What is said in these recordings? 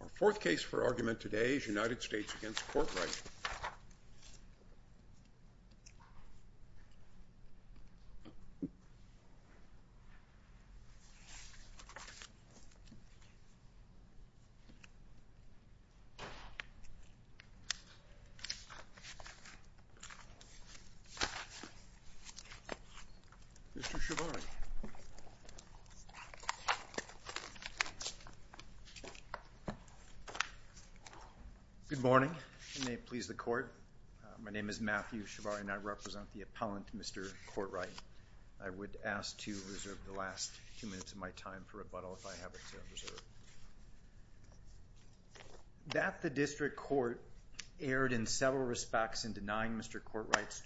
Our fourth case for argument today is United States v. Courtright. Mr. Shabani. Good morning. May it please the Court. My name is Matthew Shabani and I represent the appellant, Mr. Courtright. I would ask to reserve the last two minutes of my time for rebuttal if I have it to reserve. That the District Court erred in several respects in denying Mr. Courtright's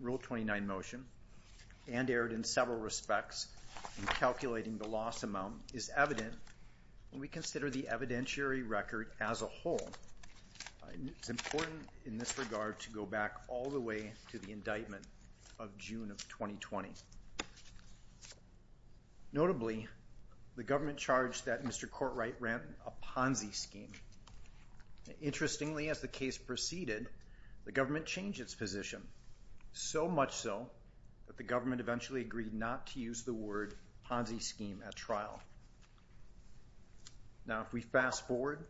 Rule 29 motion and erred in several respects in calculating the loss amount is evident and we consider the evidentiary record as a whole. It's important in this regard to go back all the way to the indictment of June of 2020. Notably, the government charged that Mr. Courtright ran a Ponzi scheme. Interestingly, as the case proceeded, the government changed its position, so much so that the government eventually agreed not to use the word Ponzi scheme at trial. Now, if we fast forward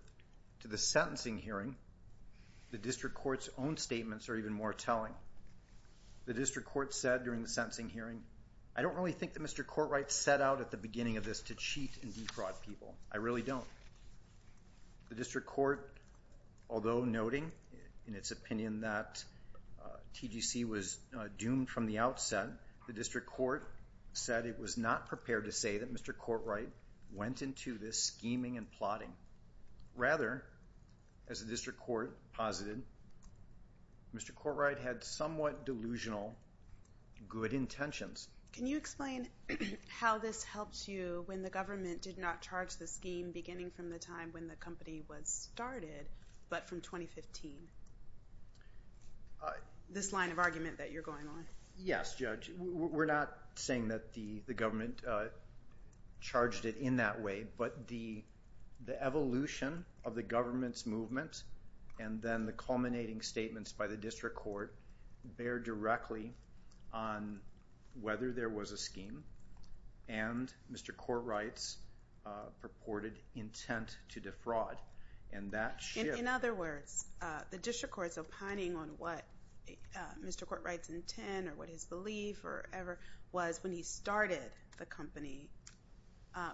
to the sentencing hearing, the District Court's own statements are even more telling. The District Court said during the sentencing hearing, I don't really think that Mr. Courtright set out at the beginning of this to cheat and defraud people. I really don't. The District Court, although noting in its opinion that TGC was doomed from the outset, the District Court said it was not prepared to say that Mr. Courtright went into this scheming and plotting. Rather, as the District Court posited, Mr. Courtright had somewhat delusional good intentions. Can you explain how this helped you when the government did not charge the scheme beginning from the time when the company was started, but from 2015? This line of argument that you're going on. Yes, Judge. We're not saying that the government charged it in that way, but the evolution of the government's movement, and then the culminating statements by the District Court, bear directly on whether there was a scheme, and Mr. Courtright's purported intent to defraud. In other words, the District Court's opining on what Mr. Courtright's intent, or what his belief, or whatever, was when he started the company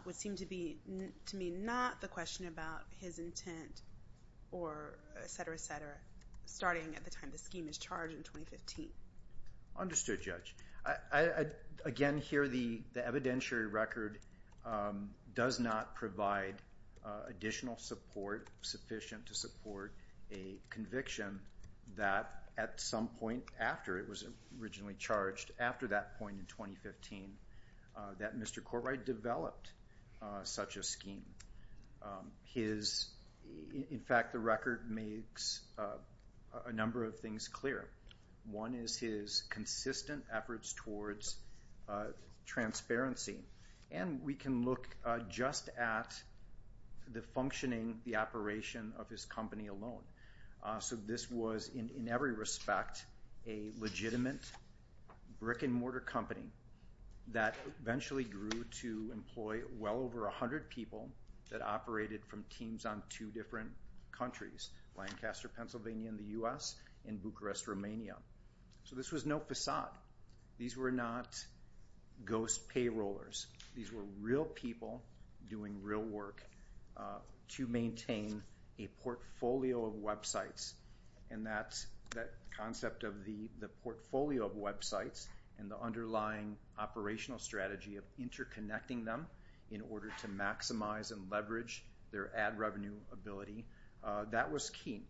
would seem to be, to me, not the question about his intent, or etc., etc., starting at the time the scheme was charged in 2015. Understood, Judge. Again, here, the evidentiary record does not provide additional support sufficient to support a conviction that at some point after it was originally charged, after that point in 2015, that Mr. Courtright developed such a scheme. In fact, the record makes a number of things clear. One is his consistent efforts towards transparency, and we can look just at the functioning, the operation of his company alone. So this was, in every respect, a legitimate brick-and-mortar company that eventually grew to employ well over 100 people that operated from teams on two different countries, Lancaster, Pennsylvania in the U.S., and Bucharest, Romania. So this was no facade. These were not ghost payrollers. These were real people doing real work to maintain a portfolio of websites. And that concept of the portfolio of websites and the underlying operational strategy of interconnecting them in order to maximize and leverage their ad revenue ability, that was key.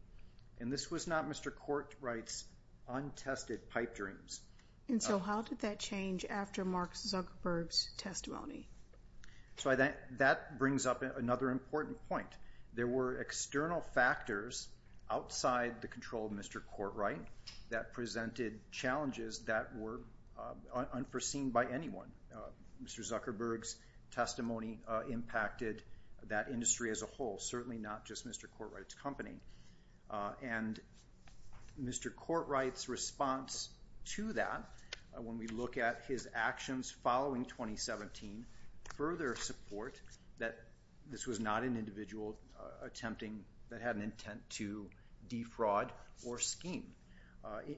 And this was not Mr. Courtright's untested pipe dreams. And so how did that change after Mark Zuckerberg's testimony? So that brings up another important point. There were external factors outside the control of Mr. Courtright that presented challenges that were unforeseen by anyone. Mr. Zuckerberg's testimony impacted that industry as a whole, certainly not just Mr. Courtright's company. And Mr. Courtright's response to that, when we look at his actions following 2017, further support that this was not an individual attempting, that had an intent to defraud or scheme.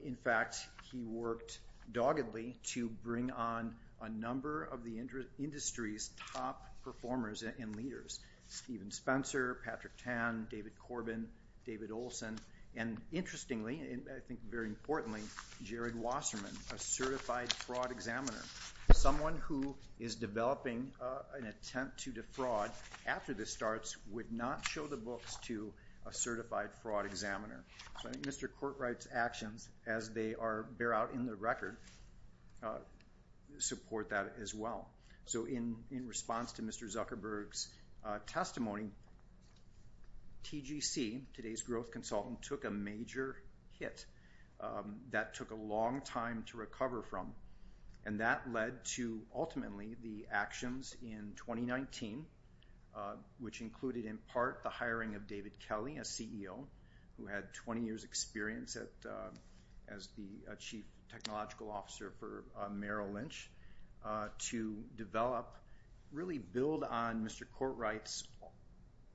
In fact, he worked doggedly to bring on a number of the industry's top performers and leaders, Stephen Spencer, Patrick Tan, David Corbin, David Olson, and interestingly, and I think very importantly, Jared Wasserman, a certified fraud examiner. Someone who is developing an attempt to defraud after this starts would not show the books to a certified fraud examiner. So I think Mr. Courtright's actions, as they bear out in the record, support that as well. So in response to Mr. Zuckerberg's testimony, TGC, today's growth consultant, took a major hit that took a long time to recover from. And that led to ultimately the actions in 2019, which included in part the hiring of David Kelly, who had 20 years experience as the Chief Technological Officer for Merrill Lynch, to develop, really build on Mr. Courtright's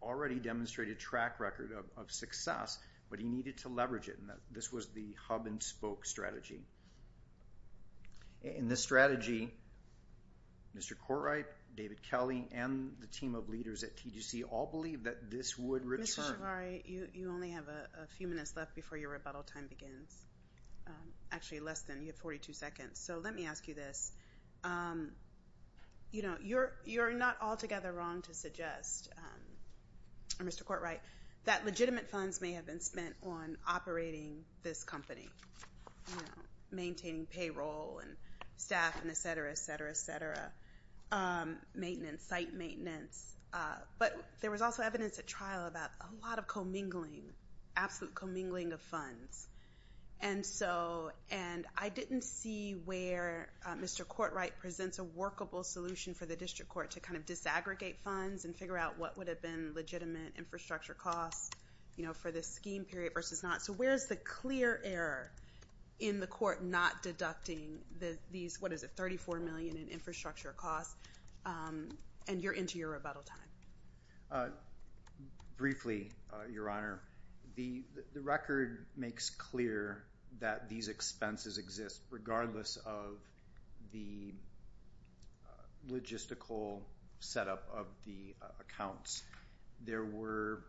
already demonstrated track record of success, but he needed to leverage it. And this was the hub and spoke strategy. In this strategy, Mr. Courtright, David Kelly, and the team of leaders at TGC all believed that this would return. Mr. Javari, you only have a few minutes left before your rebuttal time begins. Actually, less than. You have 42 seconds. So let me ask you this. You know, you're not altogether wrong to suggest, Mr. Courtright, that legitimate funds may have been spent on operating this company, maintaining payroll and staff and et cetera, et cetera, et cetera, maintenance, site maintenance. But there was also evidence at trial about a lot of commingling, absolute commingling of funds. And so, and I didn't see where Mr. Courtright presents a workable solution for the district court to kind of disaggregate funds and figure out what would have been legitimate infrastructure costs, you know, for this scheme period versus not. So where is the clear error in the court not deducting these, what is it, 34 million in infrastructure costs? And you're into your rebuttal time. Briefly, Your Honor, the record makes clear that these expenses exist regardless of the logistical setup of the accounts. There were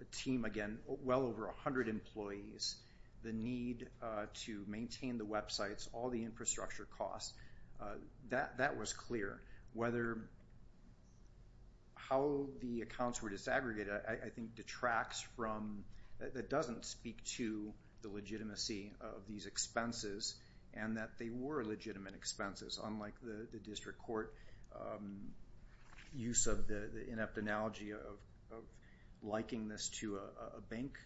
a team, again, well over 100 employees. The need to maintain the websites, all the infrastructure costs, that was clear. Whether how the accounts were disaggregated I think detracts from, that doesn't speak to the legitimacy of these expenses and that they were legitimate expenses unlike the district court use of the inept analogy of liking this to a bank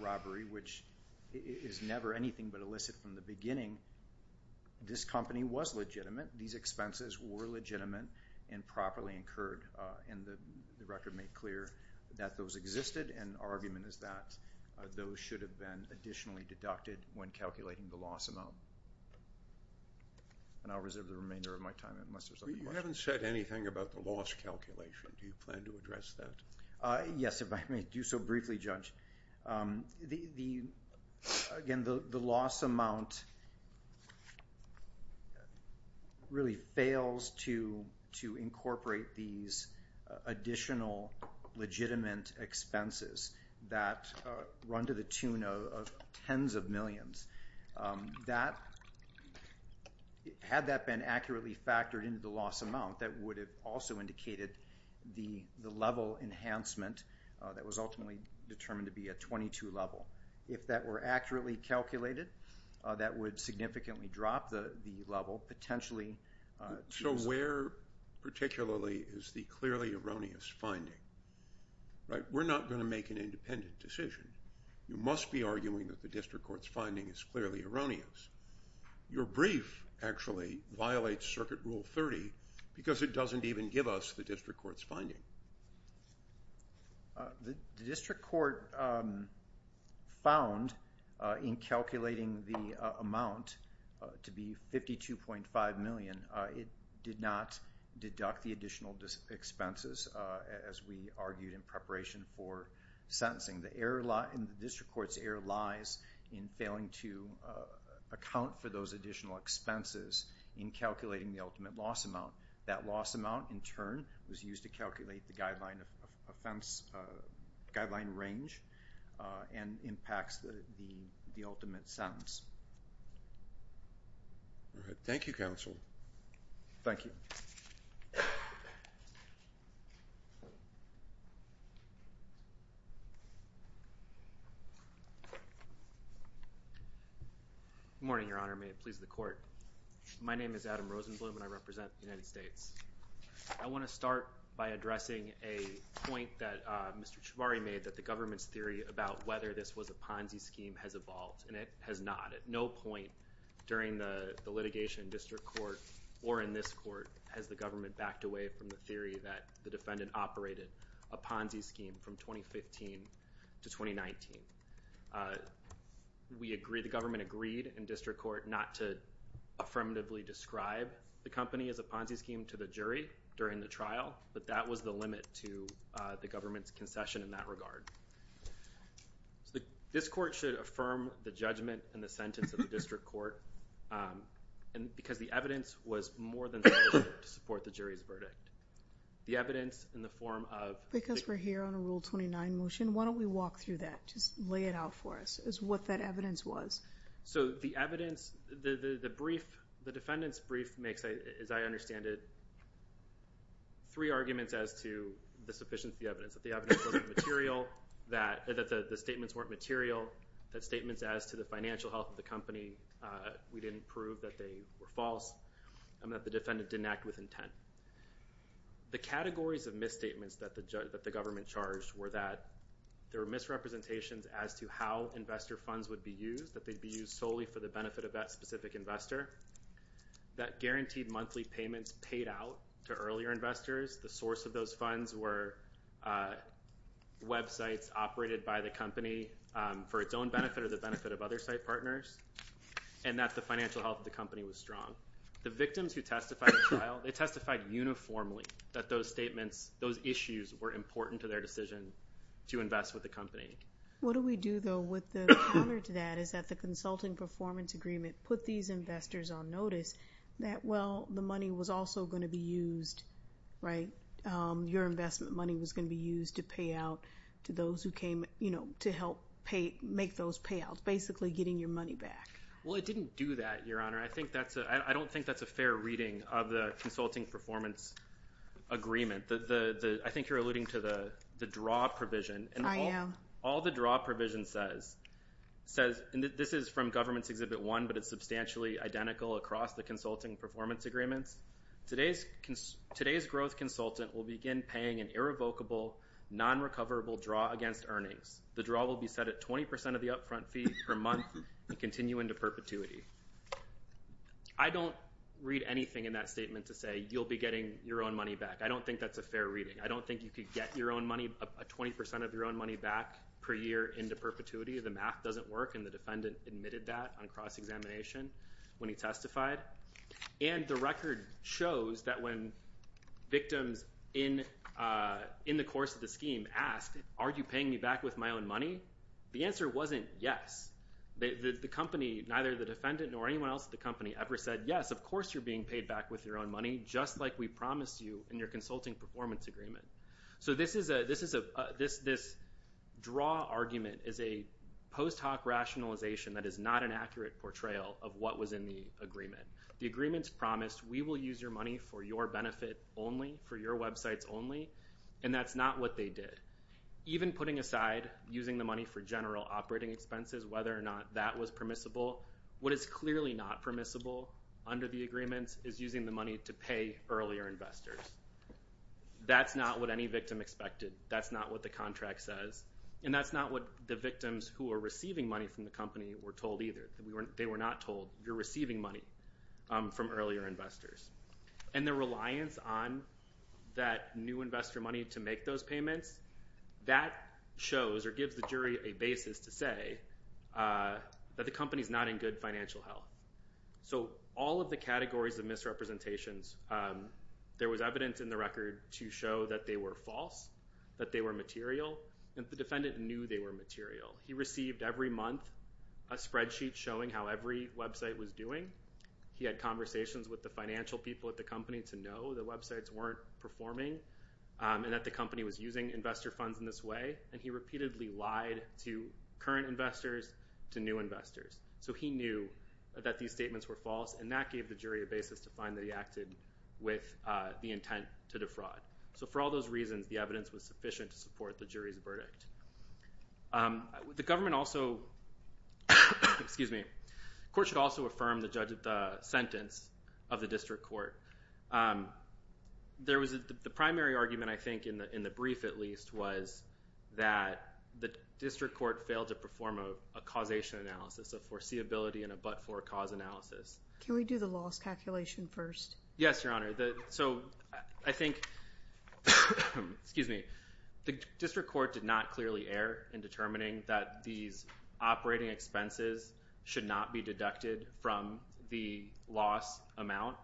robbery which is never anything but illicit from the beginning. This company was legitimate. These expenses were legitimate and properly incurred and the record made clear that those existed and argument is that those should have been additionally deducted when calculating the loss amount. And I'll reserve the remainder of my time unless there's other questions. You haven't said anything about the loss calculation. Do you plan to address that? Yes, if I may do so briefly, Judge. Again, the loss amount really fails to incorporate these additional legitimate expenses that run to the tune of tens of millions. Had that been accurately factored into the loss amount, that would have also indicated the level enhancement that was ultimately determined to be a 22 level. If that were accurately calculated, that would significantly drop the level potentially. So where particularly is the clearly erroneous finding? We're not going to make an independent decision. You must be arguing that the district court's finding is clearly erroneous. Your brief actually violates Circuit Rule 30 because it doesn't even give us the district court's finding. The district court found in calculating the amount to be $52.5 million, it did not deduct the additional expenses as we argued in preparation for sentencing. The error in the district court's error lies in failing to account for those additional expenses in calculating the ultimate loss amount. That loss amount, in turn, was used to calculate the guideline range and impacts the ultimate sentence. Thank you, counsel. Thank you. Good morning, Your Honor. May it please the court. My name is Adam Rosenblum, and I represent the United States. I want to start by addressing a point that Mr. Chivari made, that the government's theory about whether this was a Ponzi scheme has evolved, and it has not. At no point during the litigation in district court or in this court has the government backed away from the theory that the defendant operated a Ponzi scheme from 2015 to 2019. The government agreed in district court not to affirmatively describe the company as a Ponzi scheme to the jury during the trial, but that was the limit to the government's concession in that regard. This court should affirm the judgment and the sentence of the district court because the evidence was more than sufficient to support the jury's verdict. The evidence in the form of... Because we're here on a Rule 29 motion, why don't we walk through that? Just lay it out for us as what that evidence was. So the evidence, the defendant's brief makes, as I understand it, three arguments as to the sufficiency of the evidence. That the evidence wasn't material, that the statements weren't material, that statements as to the financial health of the company, we didn't prove that they were false, and that the defendant didn't act with intent. The categories of misstatements that the government charged were that there were misrepresentations as to how investor funds would be used, that they'd be used solely for the benefit of that specific investor, that guaranteed monthly payments paid out to earlier investors, the source of those funds were websites operated by the company for its own benefit or the benefit of other site partners, and that the financial health of the company was strong. The victims who testified in trial, they testified uniformly that those statements, those issues were important to their decision to invest with the company. What do we do, though, with the counter to that is that the Consulting Performance Agreement put these investors on notice that, well, the money was also going to be used, right? Your investment money was going to be used to pay out to those who came, you know, to help make those payouts, basically getting your money back. Well, it didn't do that, Your Honor. I don't think that's a fair reading of the Consulting Performance Agreement. I think you're alluding to the draw provision. I am. All the draw provision says, and this is from Government's Exhibit 1, but it's substantially identical across the Consulting Performance Agreements, today's growth consultant will begin paying an irrevocable, non-recoverable draw against earnings. The draw will be set at 20% of the upfront fee per month and continue into perpetuity. I don't read anything in that statement to say you'll be getting your own money back. I don't think that's a fair reading. I don't think you could get your own money, 20% of your own money back per year into perpetuity. The math doesn't work, and the defendant admitted that on cross-examination when he testified. And the record shows that when victims in the course of the scheme asked, are you paying me back with my own money, the answer wasn't yes. The company, neither the defendant nor anyone else at the company ever said yes, of course you're being paid back with your own money, just like we promised you in your Consulting Performance Agreement. So this draw argument is a post hoc rationalization that is not an accurate portrayal of what was in the agreement. The agreement's promised we will use your money for your benefit only, for your websites only, and that's not what they did. Even putting aside using the money for general operating expenses, whether or not that was permissible, what is clearly not permissible under the agreement is using the money to pay earlier investors. That's not what any victim expected. That's not what the contract says. And that's not what the victims who are receiving money from the company were told either. They were not told, you're receiving money from earlier investors. And the reliance on that new investor money to make those payments, that shows or gives the jury a basis to say that the company's not in good financial health. So all of the categories of misrepresentations, there was evidence in the record to show that they were false, that they were material, and the defendant knew they were material. He received every month a spreadsheet showing how every website was doing. He had conversations with the financial people at the company to know the websites weren't performing and that the company was using investor funds in this way, and he repeatedly lied to current investors, to new investors. So he knew that these statements were false, and that gave the jury a basis to find that he acted with the intent to defraud. So for all those reasons, the evidence was sufficient to support the jury's verdict. The court should also affirm the sentence of the district court. The primary argument, I think, in the brief at least, was that the district court failed to perform a causation analysis, a foreseeability and a but-for cause analysis. Can we do the loss calculation first? Yes, Your Honor. So I think the district court did not clearly err in determining that these operating expenses should not be deducted from the loss amount.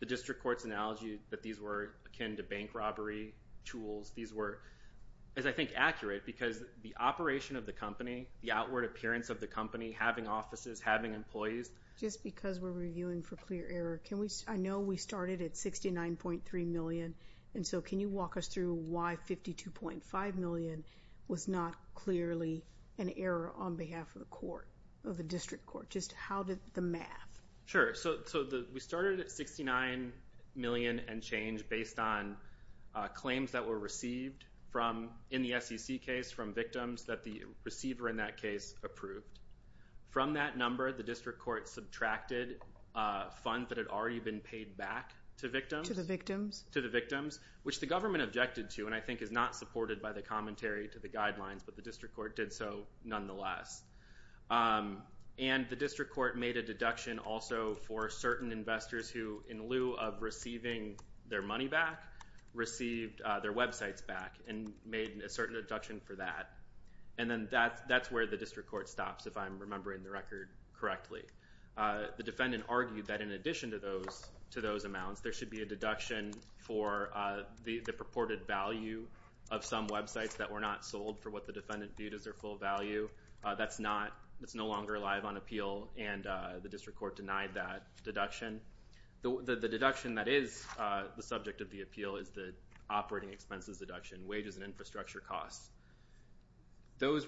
The district court's analogy that these were akin to bank robbery tools, these were, as I think, accurate because the operation of the company, the outward appearance of the company, having offices, having employees. Just because we're reviewing for clear error, I know we started at $69.3 million, and so can you walk us through why $52.5 million was not clearly an error on behalf of the court, of the district court? Just how did the math? Sure. So we started at $69 million and change based on claims that were received in the SEC case from victims that the receiver in that case approved. From that number, the district court subtracted funds that had already been paid back to victims. To the victims? To the victims, which the government objected to and I think is not supported by the commentary to the guidelines, but the district court did so nonetheless. And the district court made a deduction also for certain investors who, in lieu of receiving their money back, received their websites back and made a certain deduction for that. And then that's where the district court stops, if I'm remembering the record correctly. The defendant argued that in addition to those amounts, there should be a deduction for the purported value of some websites that were not sold for what the defendant viewed as their full value. That's no longer alive on appeal and the district court denied that deduction. The deduction that is the subject of the appeal is the operating expenses deduction, wages and infrastructure costs. There was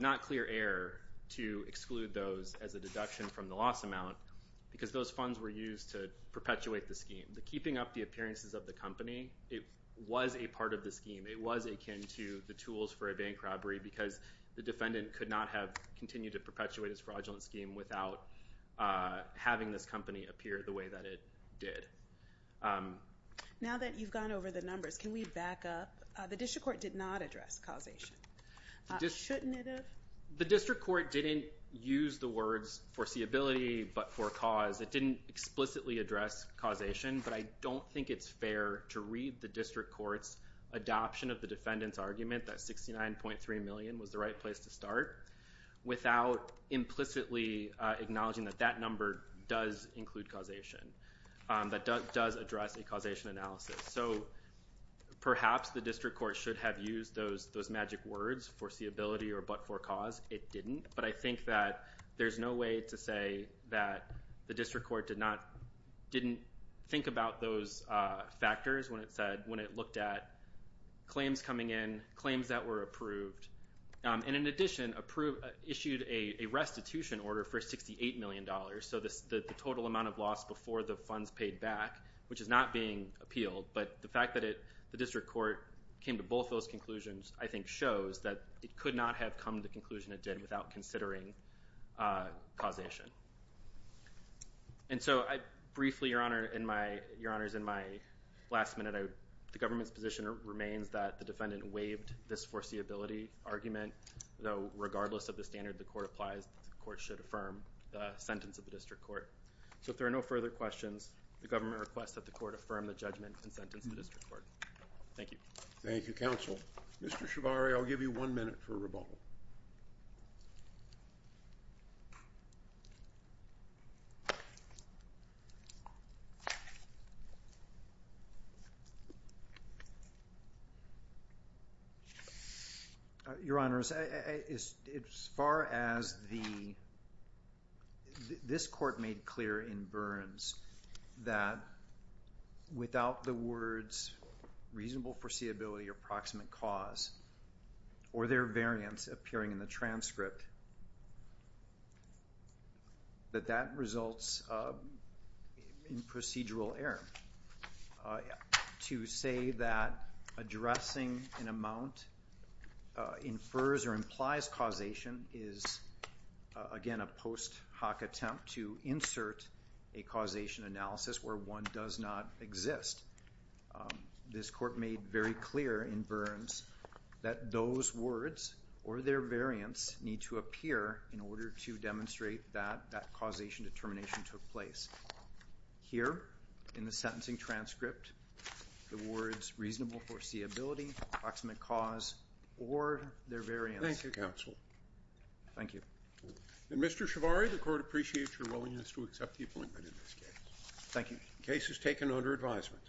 not clear error to exclude those as a deduction from the loss amount because those funds were used to perpetuate the scheme. The keeping up the appearances of the company, it was a part of the scheme. It was akin to the tools for a bank robbery because the defendant could not have continued to perpetuate his fraudulent scheme without having this company appear the way that it did. Now that you've gone over the numbers, can we back up? The district court did not address causation. Shouldn't it have? The district court didn't use the words foreseeability but for cause. It didn't explicitly address causation, but I don't think it's fair to read the district court's adoption of the defendant's argument that $69.3 million was the right place to start without implicitly acknowledging that that number does include causation, that does address a causation analysis. Perhaps the district court should have used those magic words, foreseeability but for cause. It didn't, but I think that there's no way to say that the district court didn't think about those factors when it looked at claims coming in, claims that were approved, and in addition issued a restitution order for $68 million, so the total amount of loss before the funds paid back, which is not being appealed, but the fact that the district court came to both those conclusions I think shows that it could not have come to the conclusion it did without considering causation. And so briefly, Your Honor, in my last minute, the government's position remains that the defendant waived this foreseeability argument, though regardless of the standard the court applies, the court should affirm the sentence of the district court. So if there are no further questions, the government requests that the court affirm the judgment and sentence of the district court. Thank you. Thank you, counsel. Mr. Shabari, I'll give you one minute for a rebuttal. Your Honor, as far as the – this court made clear in Burns that without the words reasonable foreseeability or proximate cause or their variance appearing in the transcript, that that results in procedural error. To say that addressing an amount infers or implies causation is, again, a post hoc attempt to insert a causation analysis where one does not exist. This court made very clear in Burns that those words or their variance need to appear in order to demonstrate that that causation determination took place. Here in the sentencing transcript, the words reasonable foreseeability, proximate cause, or their variance. Thank you, counsel. Thank you. Mr. Shabari, the court appreciates your willingness to accept the appointment in this case. Thank you. The case is taken under advisement.